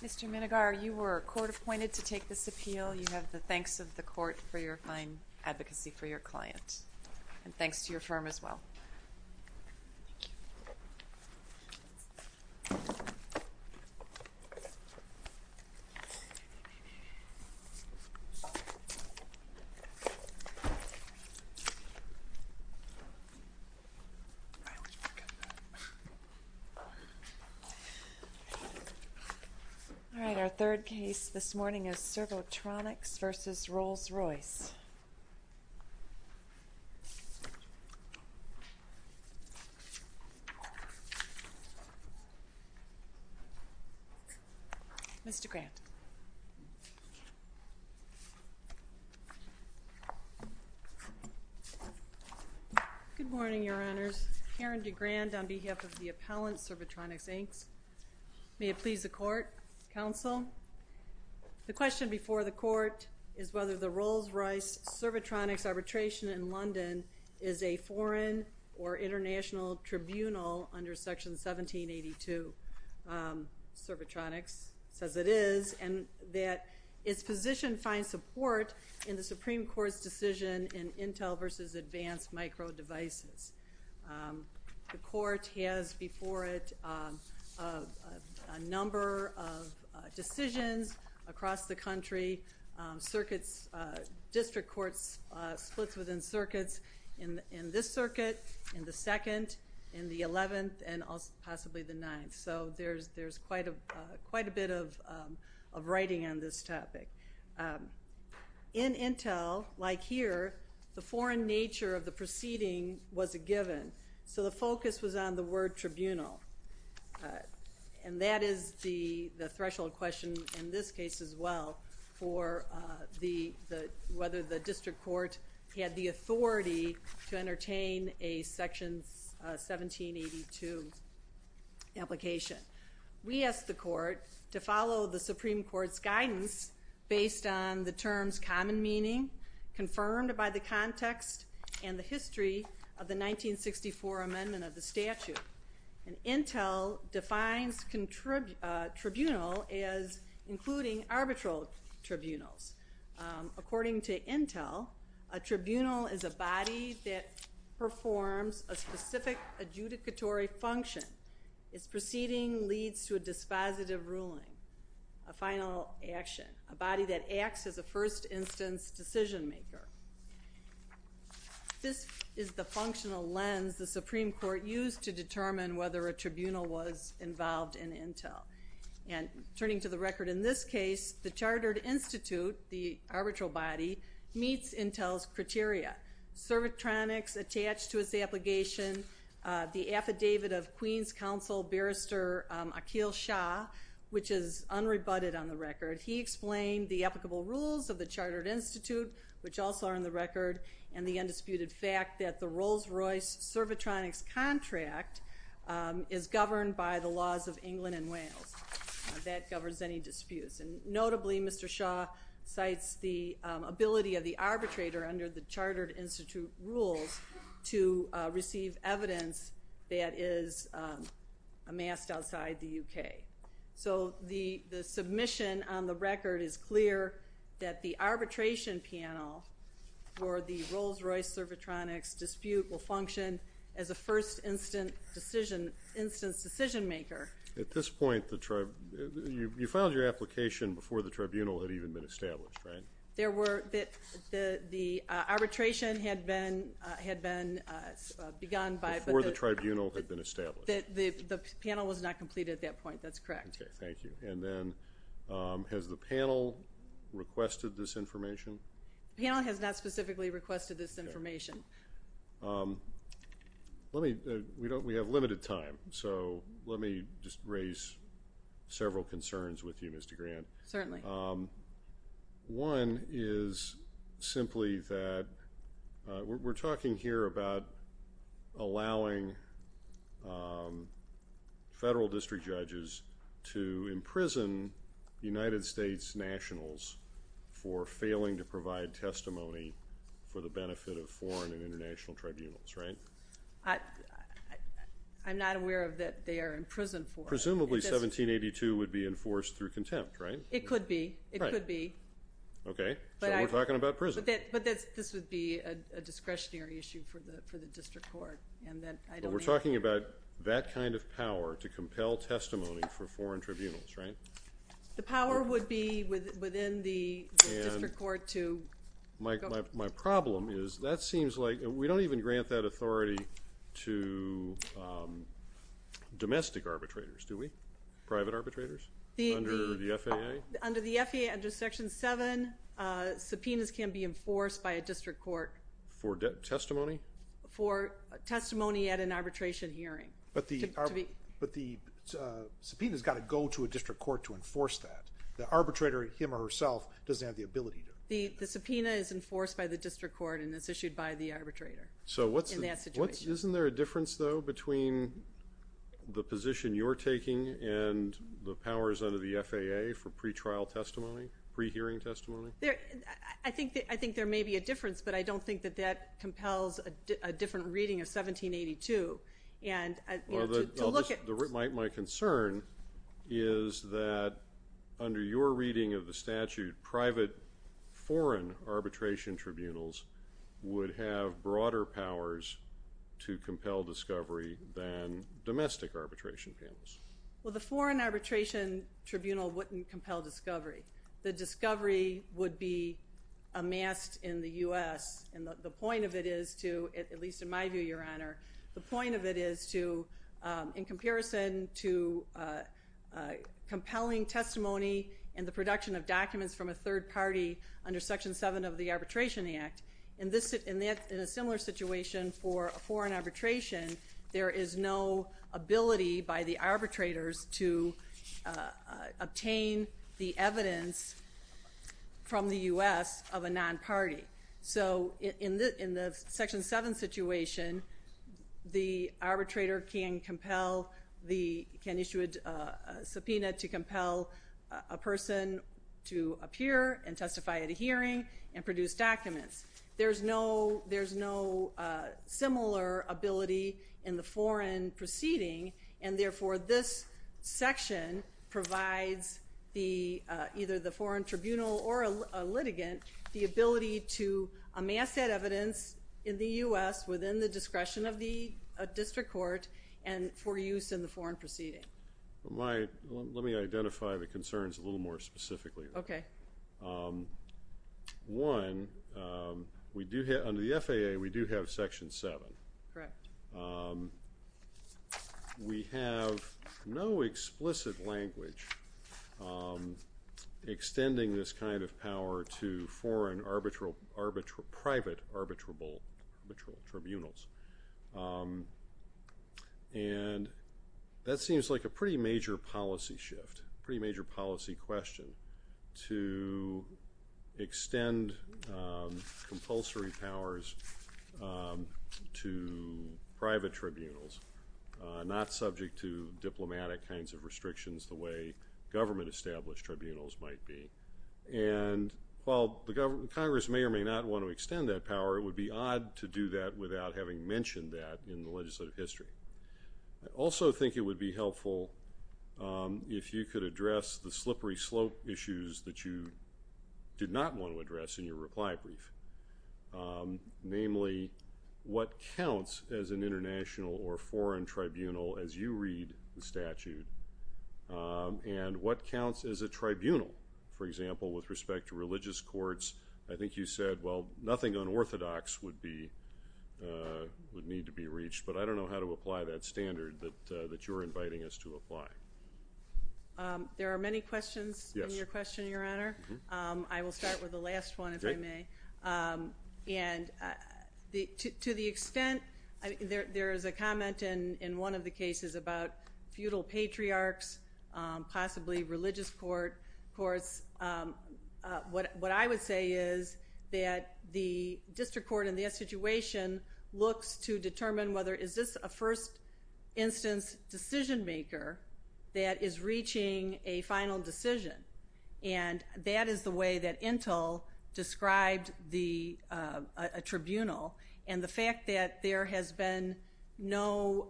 Mr. Minegar, you were court-appointed to take this appeal. You have the thanks of the court for your fine advocacy for your client, and thanks to your firm as well. Thank you. All right, our third case this morning is Servotronics v. Rolls-Royce. Good morning, Your Honors. Karen DeGrand on behalf of the appellant, Servotronics, Inc. May it please the court, counsel. The question before the court is whether the Rolls-Royce Servotronics arbitration in London is a foreign or international tribunal under Section 1782. Servotronics says it is, and that its position finds support in the Supreme Court's decision in Intel v. Advanced Micro Devices. The court has before it a number of decisions across the country. District courts split within circuits in this circuit, in the 2nd, in the 11th, and possibly the 9th. So there's quite a bit of writing on this topic. In Intel, like here, the foreign nature of the proceeding was a given, so the focus was on the word tribunal. And that is the threshold question in this case as well for whether the district court had the authority to entertain a Section 1782 application. We asked the court to follow the Supreme Court's guidance based on the terms common meaning, confirmed by the context, and the history of the 1964 amendment of the statute. And Intel defines tribunal as including arbitral tribunals. According to Intel, a tribunal is a body that performs a specific adjudicatory function. Its proceeding leads to a dispositive ruling, a final action, a body that acts as a first instance decision maker. This is the functional lens the Supreme Court used to determine whether a tribunal was involved in Intel. And turning to the record in this case, the Chartered Institute, the arbitral body, meets Intel's criteria. Servitronics attached to its application, the affidavit of Queens Council Barrister Akhil Shah, which is unrebutted on the record. He explained the applicable rules of the Chartered Institute, which also are on the record, and the undisputed fact that the Rolls-Royce servitronics contract is governed by the laws of England and Wales. That governs any disputes. And notably, Mr. Shah cites the ability of the arbitrator under the Chartered Institute rules to receive evidence that is amassed outside the UK. So the submission on the record is clear that the arbitration panel for the Rolls-Royce servitronics dispute will function as a first instance decision maker. At this point, you filed your application before the tribunal had even been established, right? The arbitration had been begun by the – Before the tribunal had been established. The panel was not completed at that point. That's correct. Okay, thank you. And then has the panel requested this information? The panel has not specifically requested this information. Let me – we have limited time, so let me just raise several concerns with you, Mr. Grant. Certainly. One is simply that we're talking here about allowing federal district judges to imprison United States nationals for failing to provide testimony for the benefit of foreign and international tribunals, right? I'm not aware that they are in prison for it. Presumably 1782 would be enforced through contempt, right? It could be. Right. It could be. Okay, so we're talking about prison. But this would be a discretionary issue for the district court. But we're talking about that kind of power to compel testimony for foreign tribunals, right? The power would be within the district court to – My problem is that seems like – we don't even grant that authority to domestic arbitrators, do we? Private arbitrators under the FAA? Under the FAA, under Section 7, subpoenas can be enforced by a district court. For testimony? For testimony at an arbitration hearing. But the subpoena has got to go to a district court to enforce that. The arbitrator, him or herself, doesn't have the ability to. The subpoena is enforced by the district court and is issued by the arbitrator in that situation. Isn't there a difference, though, between the position you're taking and the powers under the FAA for pretrial testimony, pre-hearing testimony? I think there may be a difference, but I don't think that that compels a different reading of 1782. My concern is that under your reading of the statute, private foreign arbitration tribunals would have broader powers to compel discovery than domestic arbitration panels. Well, the foreign arbitration tribunal wouldn't compel discovery. The discovery would be amassed in the U.S., and the point of it is to, at least in my view, Your Honor, the point of it is to, in comparison to compelling testimony and the production of documents from a third party under Section 7 of the Arbitration Act, in a similar situation for a foreign arbitration, there is no ability by the arbitrators to obtain the evidence from the U.S. of a non-party. So in the Section 7 situation, the arbitrator can issue a subpoena to compel a person to appear and testify at a hearing and produce documents. There's no similar ability in the foreign proceeding, and therefore this section provides either the foreign tribunal or a litigant the ability to amass that evidence in the U.S. within the discretion of the district court and for use in the foreign proceeding. Let me identify the concerns a little more specifically. Okay. One, under the FAA, we do have Section 7. Correct. We have no explicit language extending this kind of power to foreign private arbitral tribunals. And that seems like a pretty major policy shift, pretty major policy question to extend compulsory powers to private tribunals, not subject to diplomatic kinds of restrictions the way government-established tribunals might be. And while Congress may or may not want to extend that power, it would be odd to do that without having mentioned that in the legislative history. I also think it would be helpful if you could address the slippery slope issues that you did not want to address in your reply brief, namely what counts as an international or foreign tribunal as you read the statute, and what counts as a tribunal, for example, with respect to religious courts. I think you said, well, nothing unorthodox would need to be reached, but I don't know how to apply that standard that you're inviting us to apply. There are many questions in your question, Your Honor. I will start with the last one, if I may. And to the extent there is a comment in one of the cases about feudal patriarchs, possibly religious courts. Of course, what I would say is that the district court in that situation looks to determine whether is this a first-instance decision-maker that is reaching a final decision. And that is the way that Intel described a tribunal, and the fact that there has been no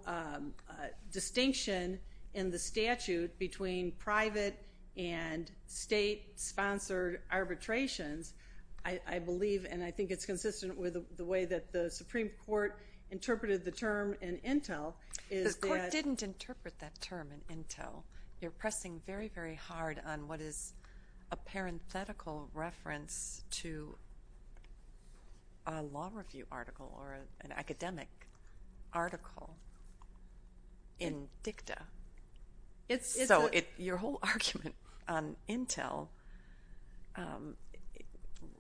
distinction in the statute between private and state-sponsored arbitrations, I believe, and I think it's consistent with the way that the Supreme Court interpreted the term in Intel. The court didn't interpret that term in Intel. You're pressing very, very hard on what is a parenthetical reference to a law review article or an academic article in dicta. So your whole argument on Intel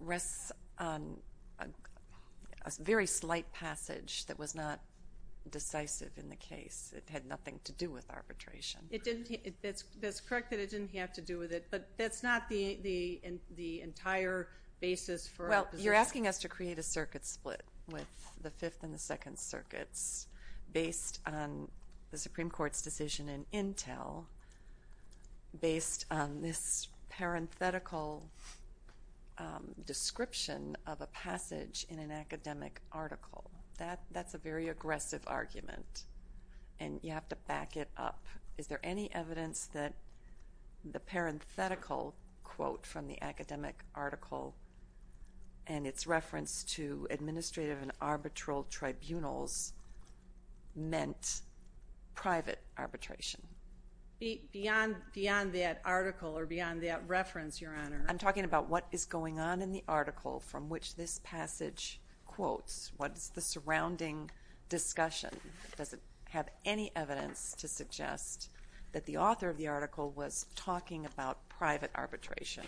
rests on a very slight passage that was not decisive in the case. It had nothing to do with arbitration. That's correct that it didn't have to do with it, but that's not the entire basis for our position. Well, you're asking us to create a circuit split with the Fifth and the Second Circuits based on the Supreme Court's decision in Intel, based on this parenthetical description of a passage in an academic article. That's a very aggressive argument, and you have to back it up. Is there any evidence that the parenthetical quote from the academic article and its reference to administrative and arbitral tribunals meant private arbitration? Beyond that article or beyond that reference, Your Honor. I'm talking about what is going on in the article from which this passage quotes. What is the surrounding discussion? Does it have any evidence to suggest that the author of the article was talking about private arbitration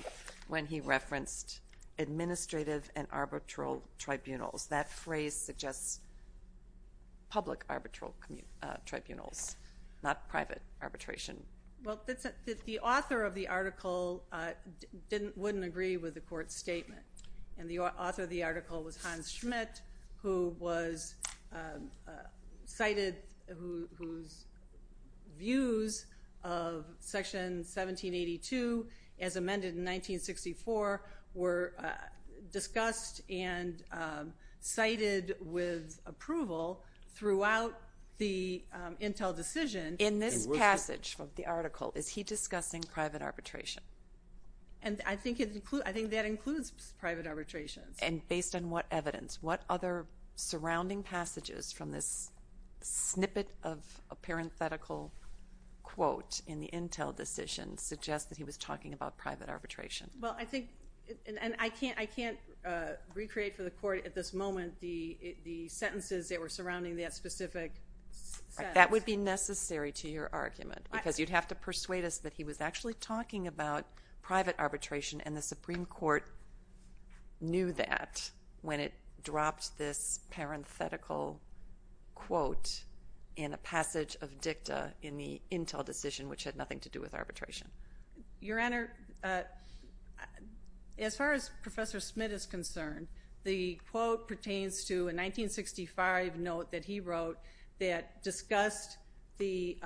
when he referenced administrative and arbitral tribunals? That phrase suggests public arbitral tribunals, not private arbitration. Well, the author of the article wouldn't agree with the Court's statement, and the author of the article was Hans Schmidt, whose views of Section 1782, as amended in 1964, were discussed and cited with approval throughout the Intel decision. In this passage of the article, is he discussing private arbitration? I think that includes private arbitration. Based on what evidence? What other surrounding passages from this snippet of a parenthetical quote in the Intel decision suggest that he was talking about private arbitration? I can't recreate for the Court at this moment the sentences that were surrounding that specific sentence. That would be necessary to your argument, because you'd have to persuade us that he was actually talking about private arbitration, and the Supreme Court knew that when it dropped this parenthetical quote in a passage of dicta in the Intel decision, which had nothing to do with arbitration. Your Honor, as far as Professor Schmidt is concerned, the quote pertains to a 1965 note that he wrote that discussed the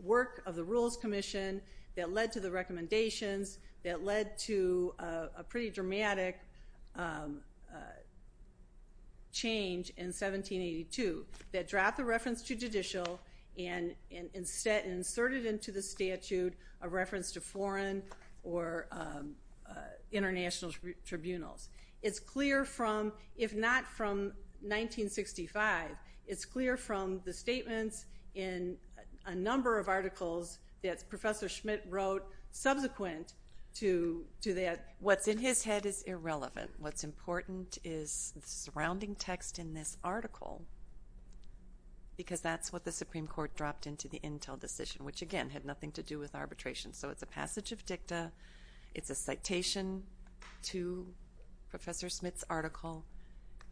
work of the Rules Commission that led to the recommendations that led to a pretty dramatic change in 1782 that dropped the reference to judicial and instead inserted into the statute a reference to foreign or international tribunals. It's clear from, if not from 1965, it's clear from the statements in a number of articles that Professor Schmidt wrote subsequent to that. What's in his head is irrelevant. What's important is the surrounding text in this article, because that's what the Supreme Court dropped into the Intel decision, which, again, had nothing to do with arbitration. So it's a passage of dicta, it's a citation to Professor Schmidt's article,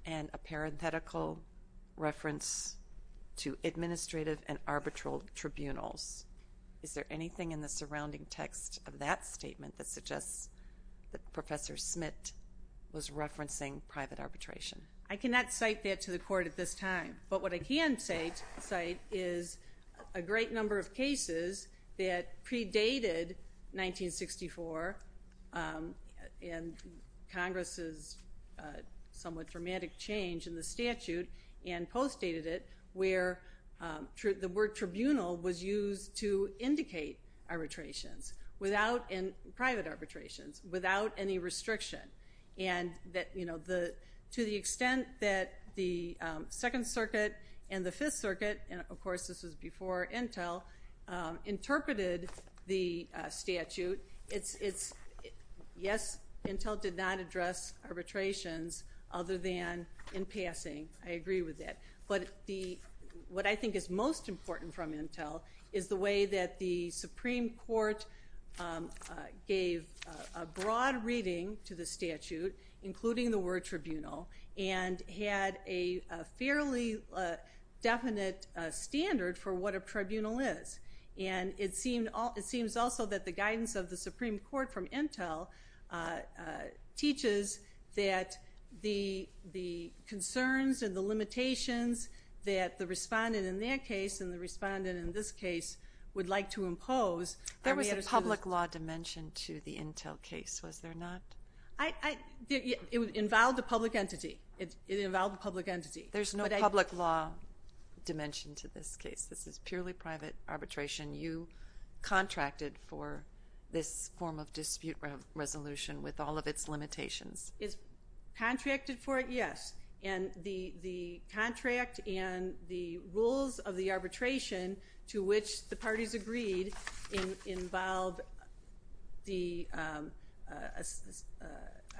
and a parenthetical reference to administrative and arbitral tribunals. Is there anything in the surrounding text of that statement that suggests that Professor Schmidt was referencing private arbitration? I cannot cite that to the Court at this time. But what I can cite is a great number of cases that predated 1964 and Congress's somewhat dramatic change in the statute and postdated it where the word tribunal was used to indicate arbitrations, private arbitrations, without any restriction. To the extent that the Second Circuit and the Fifth Circuit, and of course this was before Intel, interpreted the statute, yes, Intel did not address arbitrations other than in passing. I agree with that. But what I think is most important from Intel is the way that the Supreme Court gave a broad reading to the statute, including the word tribunal, and had a fairly definite standard for what a tribunal is. And it seems also that the guidance of the Supreme Court from Intel teaches that the concerns and the limitations that the respondent in that case and the respondent in this case would like to impose. There was a public law dimension to the Intel case, was there not? It involved a public entity. It involved a public entity. There's no public law dimension to this case. This is purely private arbitration. You contracted for this form of dispute resolution with all of its limitations. Contracted for it, yes. And the contract and the rules of the arbitration to which the parties agreed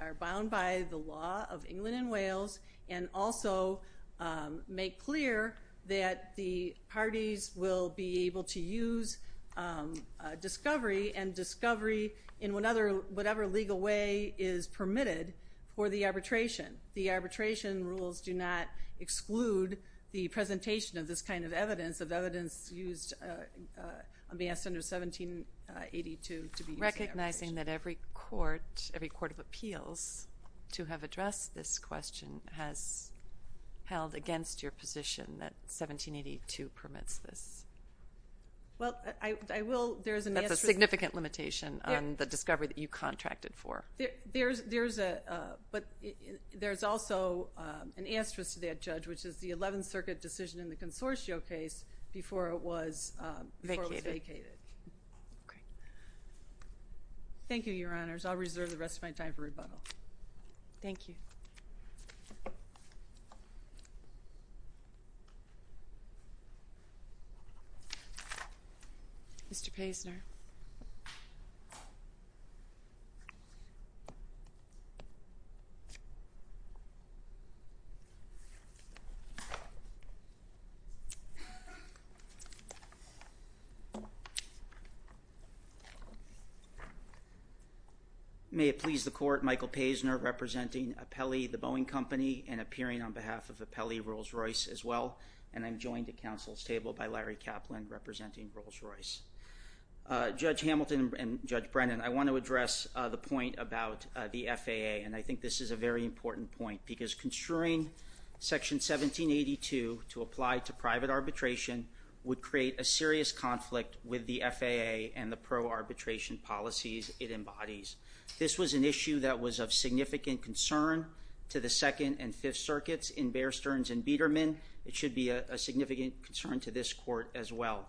are bound by the law of England and Wales, and also make clear that the parties will be able to use discovery and discovery in whatever legal way is permitted for the arbitration. The arbitration rules do not exclude the presentation of this kind of evidence, of evidence used under 1782 to be used in arbitration. Recognizing that every court of appeals to have addressed this question has held against your position that 1782 permits this. Well, I will. That's a significant limitation on the discovery that you contracted for. But there's also an asterisk to that, Judge, which is the 11th Circuit decision in the Consortio case before it was vacated. Okay. Thank you, Your Honors. I'll reserve the rest of my time for rebuttal. Thank you. Mr. Paisner. Thank you. May it please the Court, Michael Paisner representing Apelli, the Boeing Company, and appearing on behalf of Apelli Rolls-Royce as well, and I'm joined at counsel's table by Larry Kaplan representing Rolls-Royce. Judge Hamilton and Judge Brennan, I want to address the point about the FAA, and I think this is a very important point, because construing Section 1782 to apply to private arbitration would create a serious conflict with the FAA and the pro-arbitration policies it embodies. This was an issue that was of significant concern to the Second and Fifth Circuits in Bear Stearns and Biedermann. It should be a significant concern to this Court as well.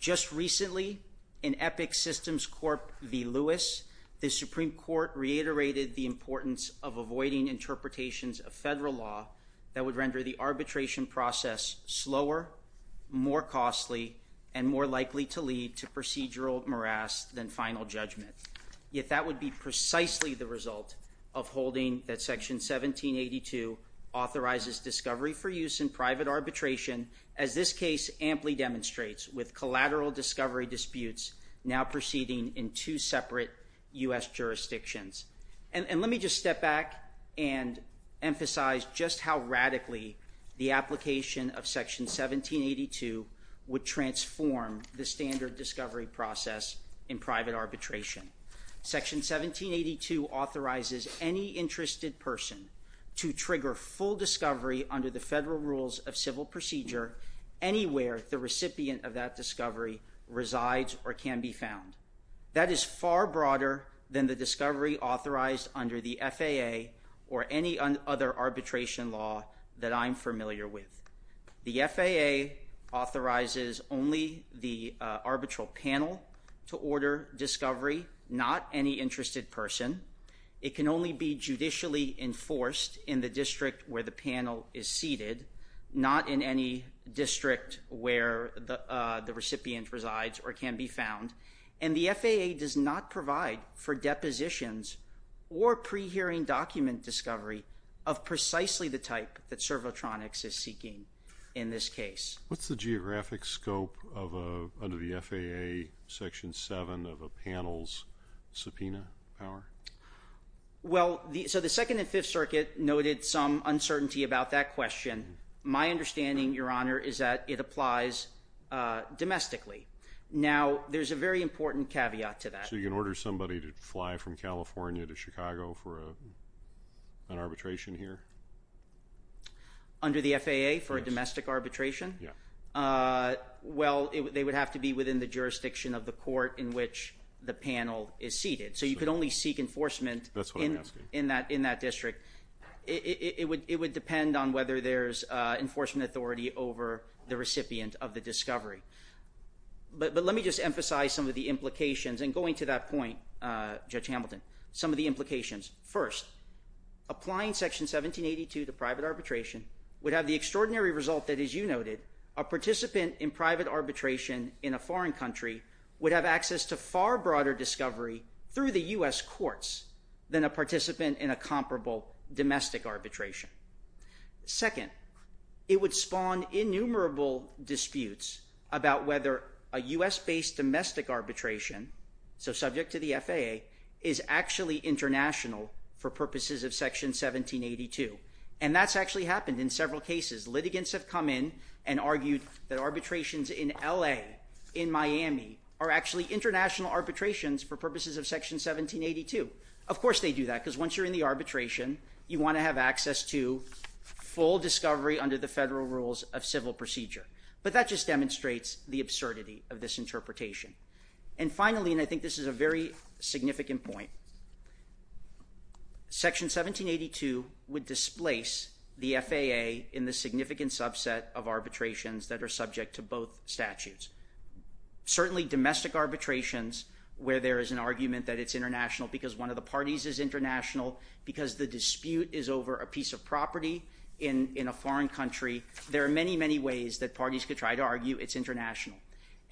Just recently, in Epic Systems Corp v. Lewis, the Supreme Court reiterated the importance of avoiding interpretations of federal law that would render the arbitration process slower, more costly, and more likely to lead to procedural morass than final judgment. Yet that would be precisely the result of holding that Section 1782 authorizes discovery for use in private arbitration, as this case amply demonstrates, with collateral discovery disputes now proceeding in two separate U.S. jurisdictions. And let me just step back and emphasize just how radically the application of Section 1782 would transform the standard discovery process in private arbitration. Section 1782 authorizes any interested person to trigger full discovery under the federal rules of civil procedure anywhere the recipient of that discovery resides or can be found. That is far broader than the discovery authorized under the FAA or any other arbitration law that I'm familiar with. The FAA authorizes only the arbitral panel to order discovery, not any interested person. It can only be judicially enforced in the district where the panel is seated, not in any district where the recipient resides or can be found. And the FAA does not provide for depositions or pre-hearing document discovery of precisely the type that Servotronics is seeking in this case. What's the geographic scope under the FAA Section 7 of a panel's subpoena power? Well, so the Second and Fifth Circuit noted some uncertainty about that question. My understanding, Your Honor, is that it applies domestically. Now, there's a very important caveat to that. So you can order somebody to fly from California to Chicago for an arbitration here? Under the FAA for a domestic arbitration? Yeah. Well, they would have to be within the jurisdiction of the court in which the panel is seated. So you could only seek enforcement in that district. It would depend on whether there's enforcement authority over the recipient of the discovery. But let me just emphasize some of the implications. And going to that point, Judge Hamilton, some of the implications. First, applying Section 1782 to private arbitration would have the extraordinary result that, as you noted, a participant in private arbitration in a foreign country would have access to far broader discovery through the U.S. courts than a participant in a comparable domestic arbitration. Second, it would spawn innumerable disputes about whether a U.S.-based domestic arbitration, so subject to the FAA, is actually international for purposes of Section 1782. And that's actually happened in several cases. Litigants have come in and argued that arbitrations in L.A., in Miami, are actually international arbitrations for purposes of Section 1782. Of course they do that, because once you're in the arbitration, you want to have access to full discovery under the federal rules of civil procedure. But that just demonstrates the absurdity of this interpretation. And finally, and I think this is a very significant point, Section 1782 would displace the FAA in the significant subset of arbitrations that are subject to both statutes. Certainly domestic arbitrations, where there is an argument that it's international because one of the parties is international, because the dispute is over a piece of property in a foreign country, there are many, many ways that parties could try to argue it's international.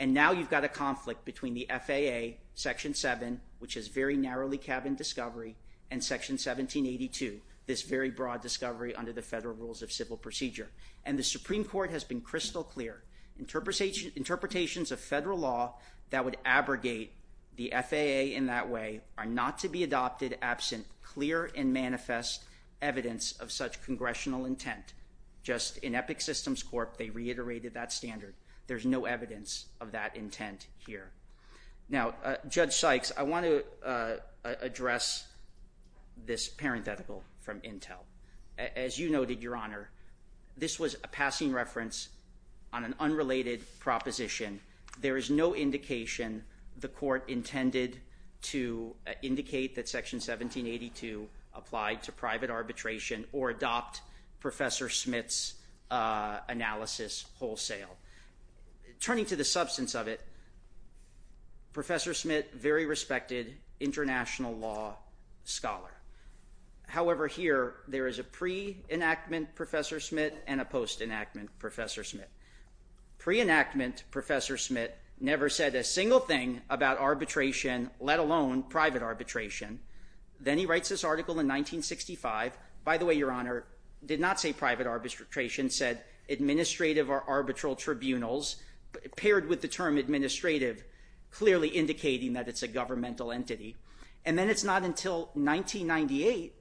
And now you've got a conflict between the FAA, Section 7, which is very narrowly cabined discovery, and Section 1782, this very broad discovery under the federal rules of civil procedure. And the Supreme Court has been crystal clear. Interpretations of federal law that would abrogate the FAA in that way are not to be adopted absent clear and manifest evidence of such congressional intent. Just in Epic Systems Corp., they reiterated that standard. There's no evidence of that intent here. Now, Judge Sykes, I want to address this parenthetical from Intel. As you noted, Your Honor, this was a passing reference on an unrelated proposition. There is no indication the court intended to indicate that Section 1782 applied to private arbitration or adopt Professor Smith's analysis wholesale. Turning to the substance of it, Professor Smith, very respected international law scholar. However, here there is a pre-enactment Professor Smith and a post-enactment Professor Smith. Pre-enactment Professor Smith never said a single thing about arbitration, let alone private arbitration. Then he writes this article in 1965. By the way, Your Honor, did not say private arbitration, said administrative or arbitral tribunals, paired with the term administrative clearly indicating that it's a governmental entity. And then it's not until 1998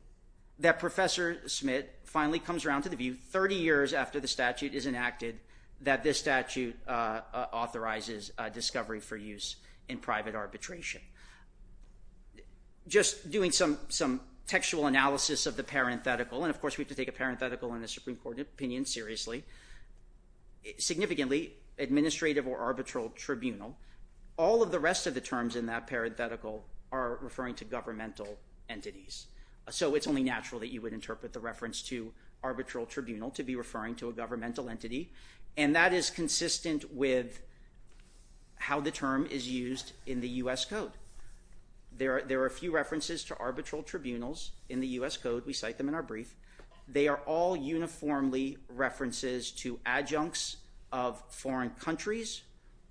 that Professor Smith finally comes around to the view 30 years after the statute is enacted that this statute authorizes discovery for use in private arbitration. Just doing some textual analysis of the parenthetical, and of course we have to take a parenthetical in a Supreme Court opinion seriously. Significantly, administrative or arbitral tribunal, all of the rest of the terms in that parenthetical are referring to governmental entities. So it's only natural that you would interpret the reference to arbitral tribunal to be referring to a governmental entity. And that is consistent with how the term is used in the U.S. Code. There are a few references to arbitral tribunals in the U.S. Code. We cite them in our brief. They are all uniformly references to adjuncts of foreign countries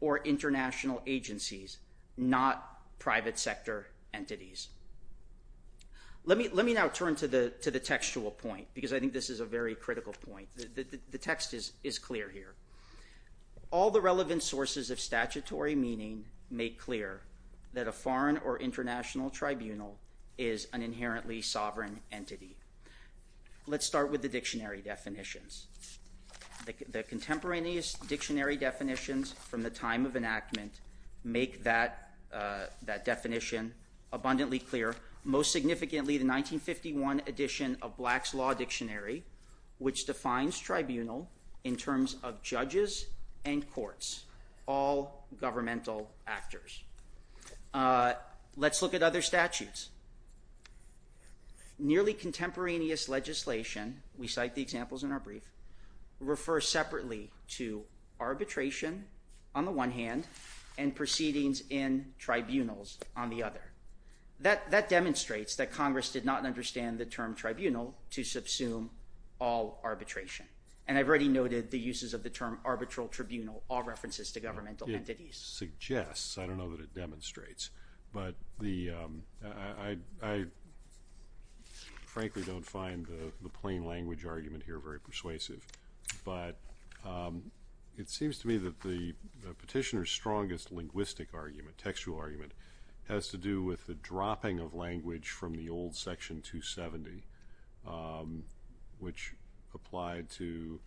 or international agencies, not private sector entities. Let me now turn to the textual point, because I think this is a very critical point. The text is clear here. All the relevant sources of statutory meaning make clear that a foreign or international tribunal is an inherently sovereign entity. Let's start with the dictionary definitions. The contemporaneous dictionary definitions from the time of enactment make that definition abundantly clear, most significantly the 1951 edition of Black's Law Dictionary, which defines tribunal in terms of judges and courts, all governmental actors. Let's look at other statutes. Nearly contemporaneous legislation, we cite the examples in our brief, refers separately to arbitration on the one hand and proceedings in tribunals on the other. That demonstrates that Congress did not understand the term tribunal to subsume all arbitration. And I've already noted the uses of the term arbitral tribunal, all references to governmental entities. It suggests. I don't know that it demonstrates. But I frankly don't find the plain language argument here very persuasive. But it seems to me that the petitioner's strongest linguistic argument, textual argument, has to do with the dropping of language from the old Section 270, which applied to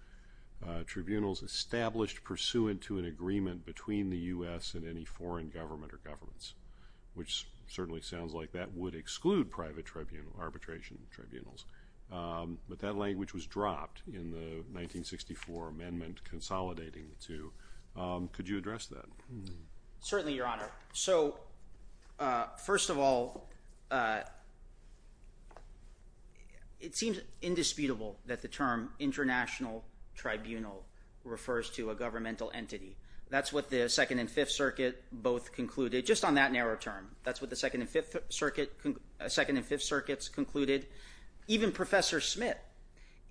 tribunals established pursuant to an agreement between the U.S. and any foreign government or governments, which certainly sounds like that would exclude private arbitration tribunals. But that language was dropped in the 1964 amendment consolidating the two. Could you address that? Certainly, Your Honor. So first of all, it seems indisputable that the term international tribunal refers to a governmental entity. That's what the Second and Fifth Circuit both concluded, just on that narrow term. That's what the Second and Fifth Circuit concluded. Even Professor Smith,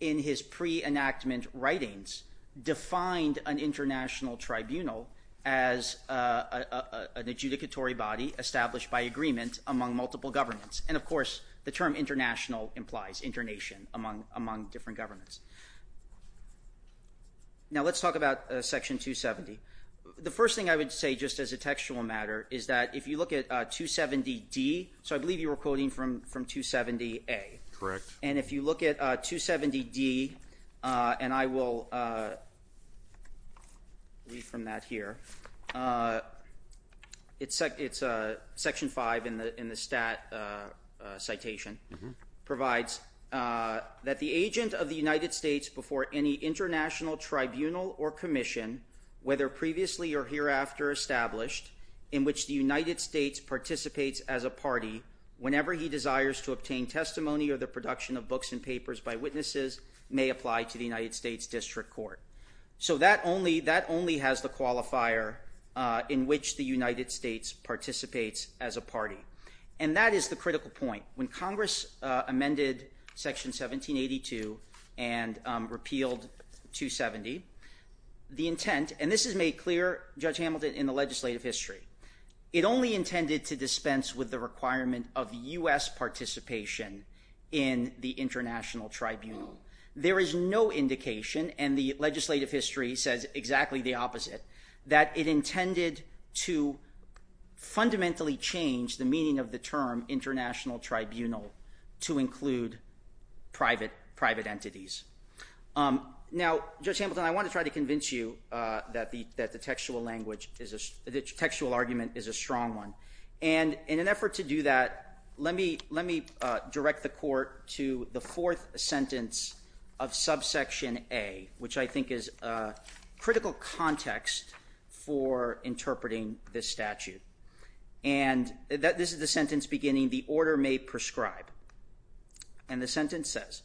in his pre-enactment writings, defined an international tribunal as an adjudicatory body established by agreement among multiple governments. And, of course, the term international implies internation among different governments. Now let's talk about Section 270. The first thing I would say, just as a textual matter, is that if you look at 270D, so I believe you were quoting from 270A. Correct. And if you look at 270D, and I will read from that here, it's Section 5 in the stat citation, provides that the agent of the United States before any international tribunal or commission, whether previously or hereafter established, in which the United States participates as a party whenever he desires to obtain testimony or the production of books and papers by witnesses, may apply to the United States District Court. So that only has the qualifier in which the United States participates as a party. And that is the critical point. When Congress amended Section 1782 and repealed 270, the intent, and this is made clear, Judge Hamilton, in the legislative history, it only intended to dispense with the requirement of U.S. participation in the international tribunal. There is no indication, and the legislative history says exactly the opposite, that it intended to fundamentally change the meaning of the term international tribunal to include private entities. Now, Judge Hamilton, I want to try to convince you that the textual argument is a strong one. And in an effort to do that, let me direct the Court to the fourth sentence of Subsection A, which I think is a critical context for interpreting this statute. And this is the sentence beginning, And the sentence says,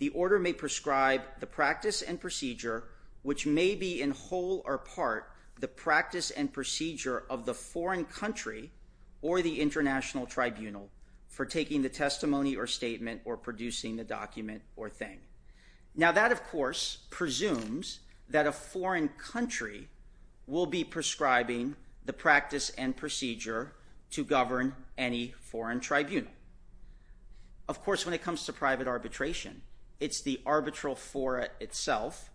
Now that, of course, presumes that a foreign country will be prescribing the practice and procedure to govern any foreign tribunal. Of course, when it comes to private arbitration, it's the arbitral fora itself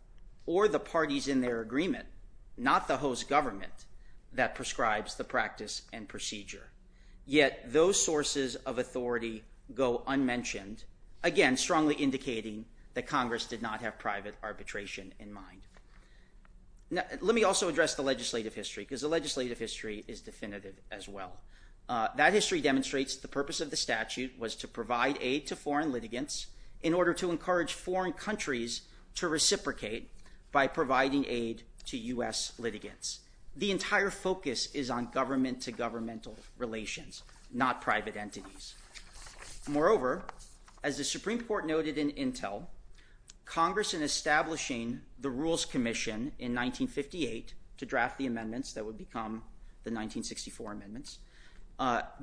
or the parties in their agreement, not the host government, that prescribes the practice and procedure. Yet those sources of authority go unmentioned, again, strongly indicating that Congress did not have private arbitration in mind. Let me also address the legislative history, because the legislative history is definitive as well. That history demonstrates the purpose of the statute was to provide aid to foreign litigants in order to encourage foreign countries to reciprocate by providing aid to U.S. litigants. The entire focus is on government-to-governmental relations, not private entities. Moreover, as the Supreme Court noted in Intel, Congress, in establishing the Rules Commission in 1958 to draft the amendments that would become the 1964 amendments,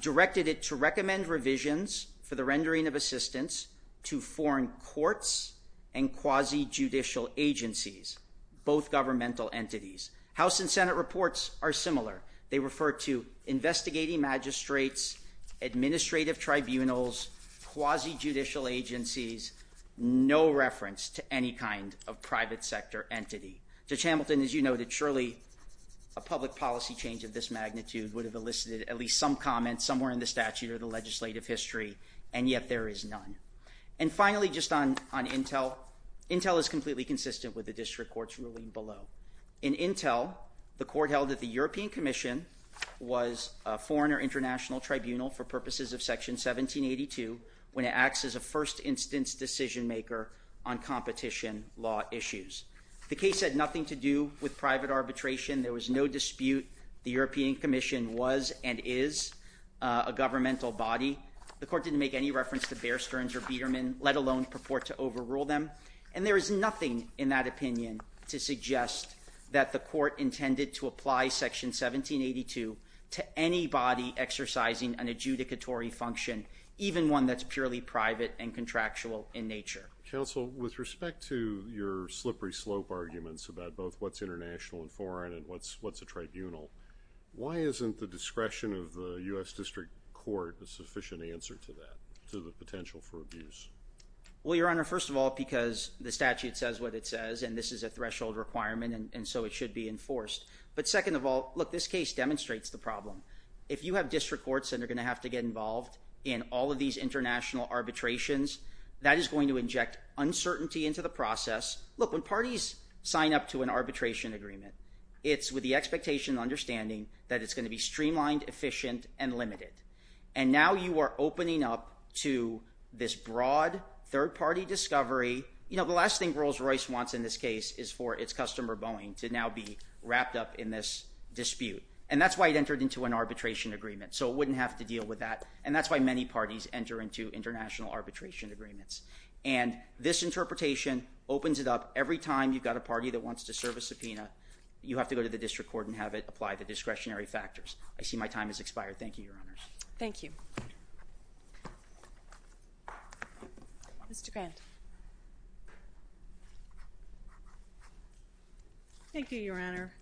directed it to recommend revisions for the rendering of assistance to foreign courts and quasi-judicial agencies, both governmental entities. House and Senate reports are similar. They refer to investigating magistrates, administrative tribunals, quasi-judicial agencies, no reference to any kind of private sector entity. Judge Hamilton, as you noted, surely a public policy change of this magnitude would have elicited at least some comment somewhere in the statute or the legislative history, and yet there is none. And finally, just on Intel, Intel is completely consistent with the district court's ruling below. In Intel, the court held that the European Commission was a foreign or international tribunal for purposes of Section 1782 when it acts as a first-instance decision-maker on competition law issues. The case had nothing to do with private arbitration. There was no dispute the European Commission was and is a governmental body. The court didn't make any reference to Bear Stearns or Biedermann, let alone purport to overrule them. And there is nothing in that opinion to suggest that the court intended to apply Section 1782 to any body exercising an adjudicatory function, even one that's purely private and contractual in nature. Counsel, with respect to your slippery slope arguments about both what's international and foreign and what's a tribunal, why isn't the discretion of the U.S. District Court a sufficient answer to that, to the potential for abuse? Well, Your Honor, first of all, because the statute says what it says, and this is a threshold requirement, and so it should be enforced. But second of all, look, this case demonstrates the problem. If you have district courts that are going to have to get involved in all of these international arbitrations, that is going to inject uncertainty into the process. Look, when parties sign up to an arbitration agreement, it's with the expectation and understanding that it's going to be streamlined, efficient, and limited. And now you are opening up to this broad third-party discovery. You know, the last thing Rolls-Royce wants in this case is for its customer Boeing to now be wrapped up in this dispute. And that's why it entered into an arbitration agreement, so it wouldn't have to deal with that. And that's why many parties enter into international arbitration agreements. And this interpretation opens it up. Every time you've got a party that wants to serve a subpoena, you have to go to the district court and have it apply the discretionary factors. I see my time has expired. Thank you, Your Honors. Thank you. Mr. Grant. Thank you, Your Honor.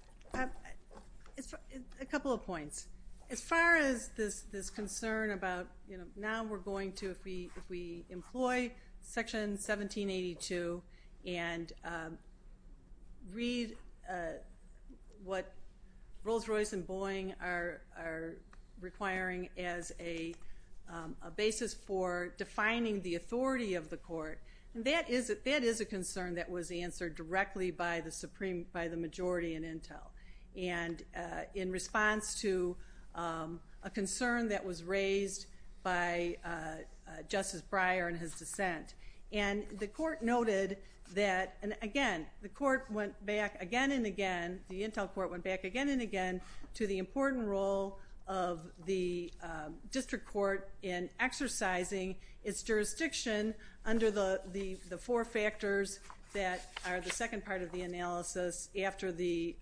A couple of points. As far as this concern about, you know, now we're going to, if we employ Section 1782 and read what Rolls-Royce and Boeing are requiring as a basis for defining the authority of the court, that is a concern that was answered directly by the majority in Intel. And in response to a concern that was raised by Justice Breyer in his dissent. And the court noted that, and again, the court went back again and again, the Intel court went back again and again to the important role of the district court in exercising its jurisdiction under the four factors that are the second part of the analysis after the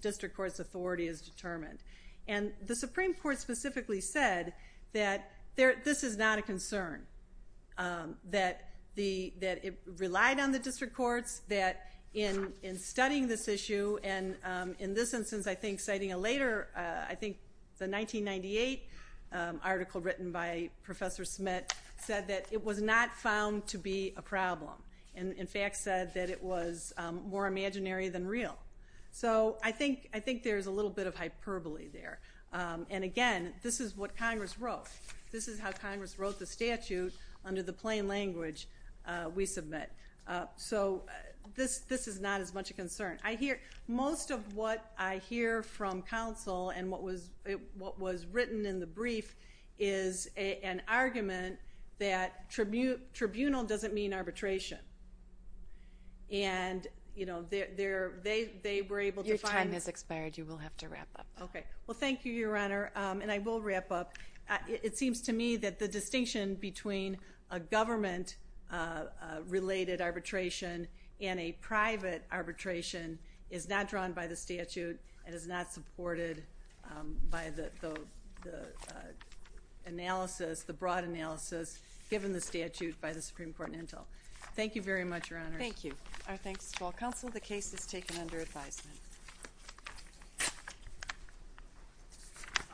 district court's authority is determined. And the Supreme Court specifically said that this is not a concern, that it relied on the district courts, that in studying this issue, and in this instance I think citing a later, I think it's a 1998 article written by Professor Smith, said that it was not found to be a problem, and in fact said that it was more imaginary than real. So I think there's a little bit of hyperbole there. And again, this is what Congress wrote. This is how Congress wrote the statute under the plain language we submit. So this is not as much a concern. Most of what I hear from counsel and what was written in the brief is an argument that tribunal doesn't mean arbitration. And, you know, they were able to find. Your time has expired. You will have to wrap up. Okay. Well, thank you, Your Honor, and I will wrap up. It seems to me that the distinction between a government-related arbitration and a private arbitration is not drawn by the statute and is not supported by the analysis, the broad analysis, given the statute by the Supreme Court in Intel. Thank you very much, Your Honor. Thank you. Our thanks to all counsel. The case is taken under advisement.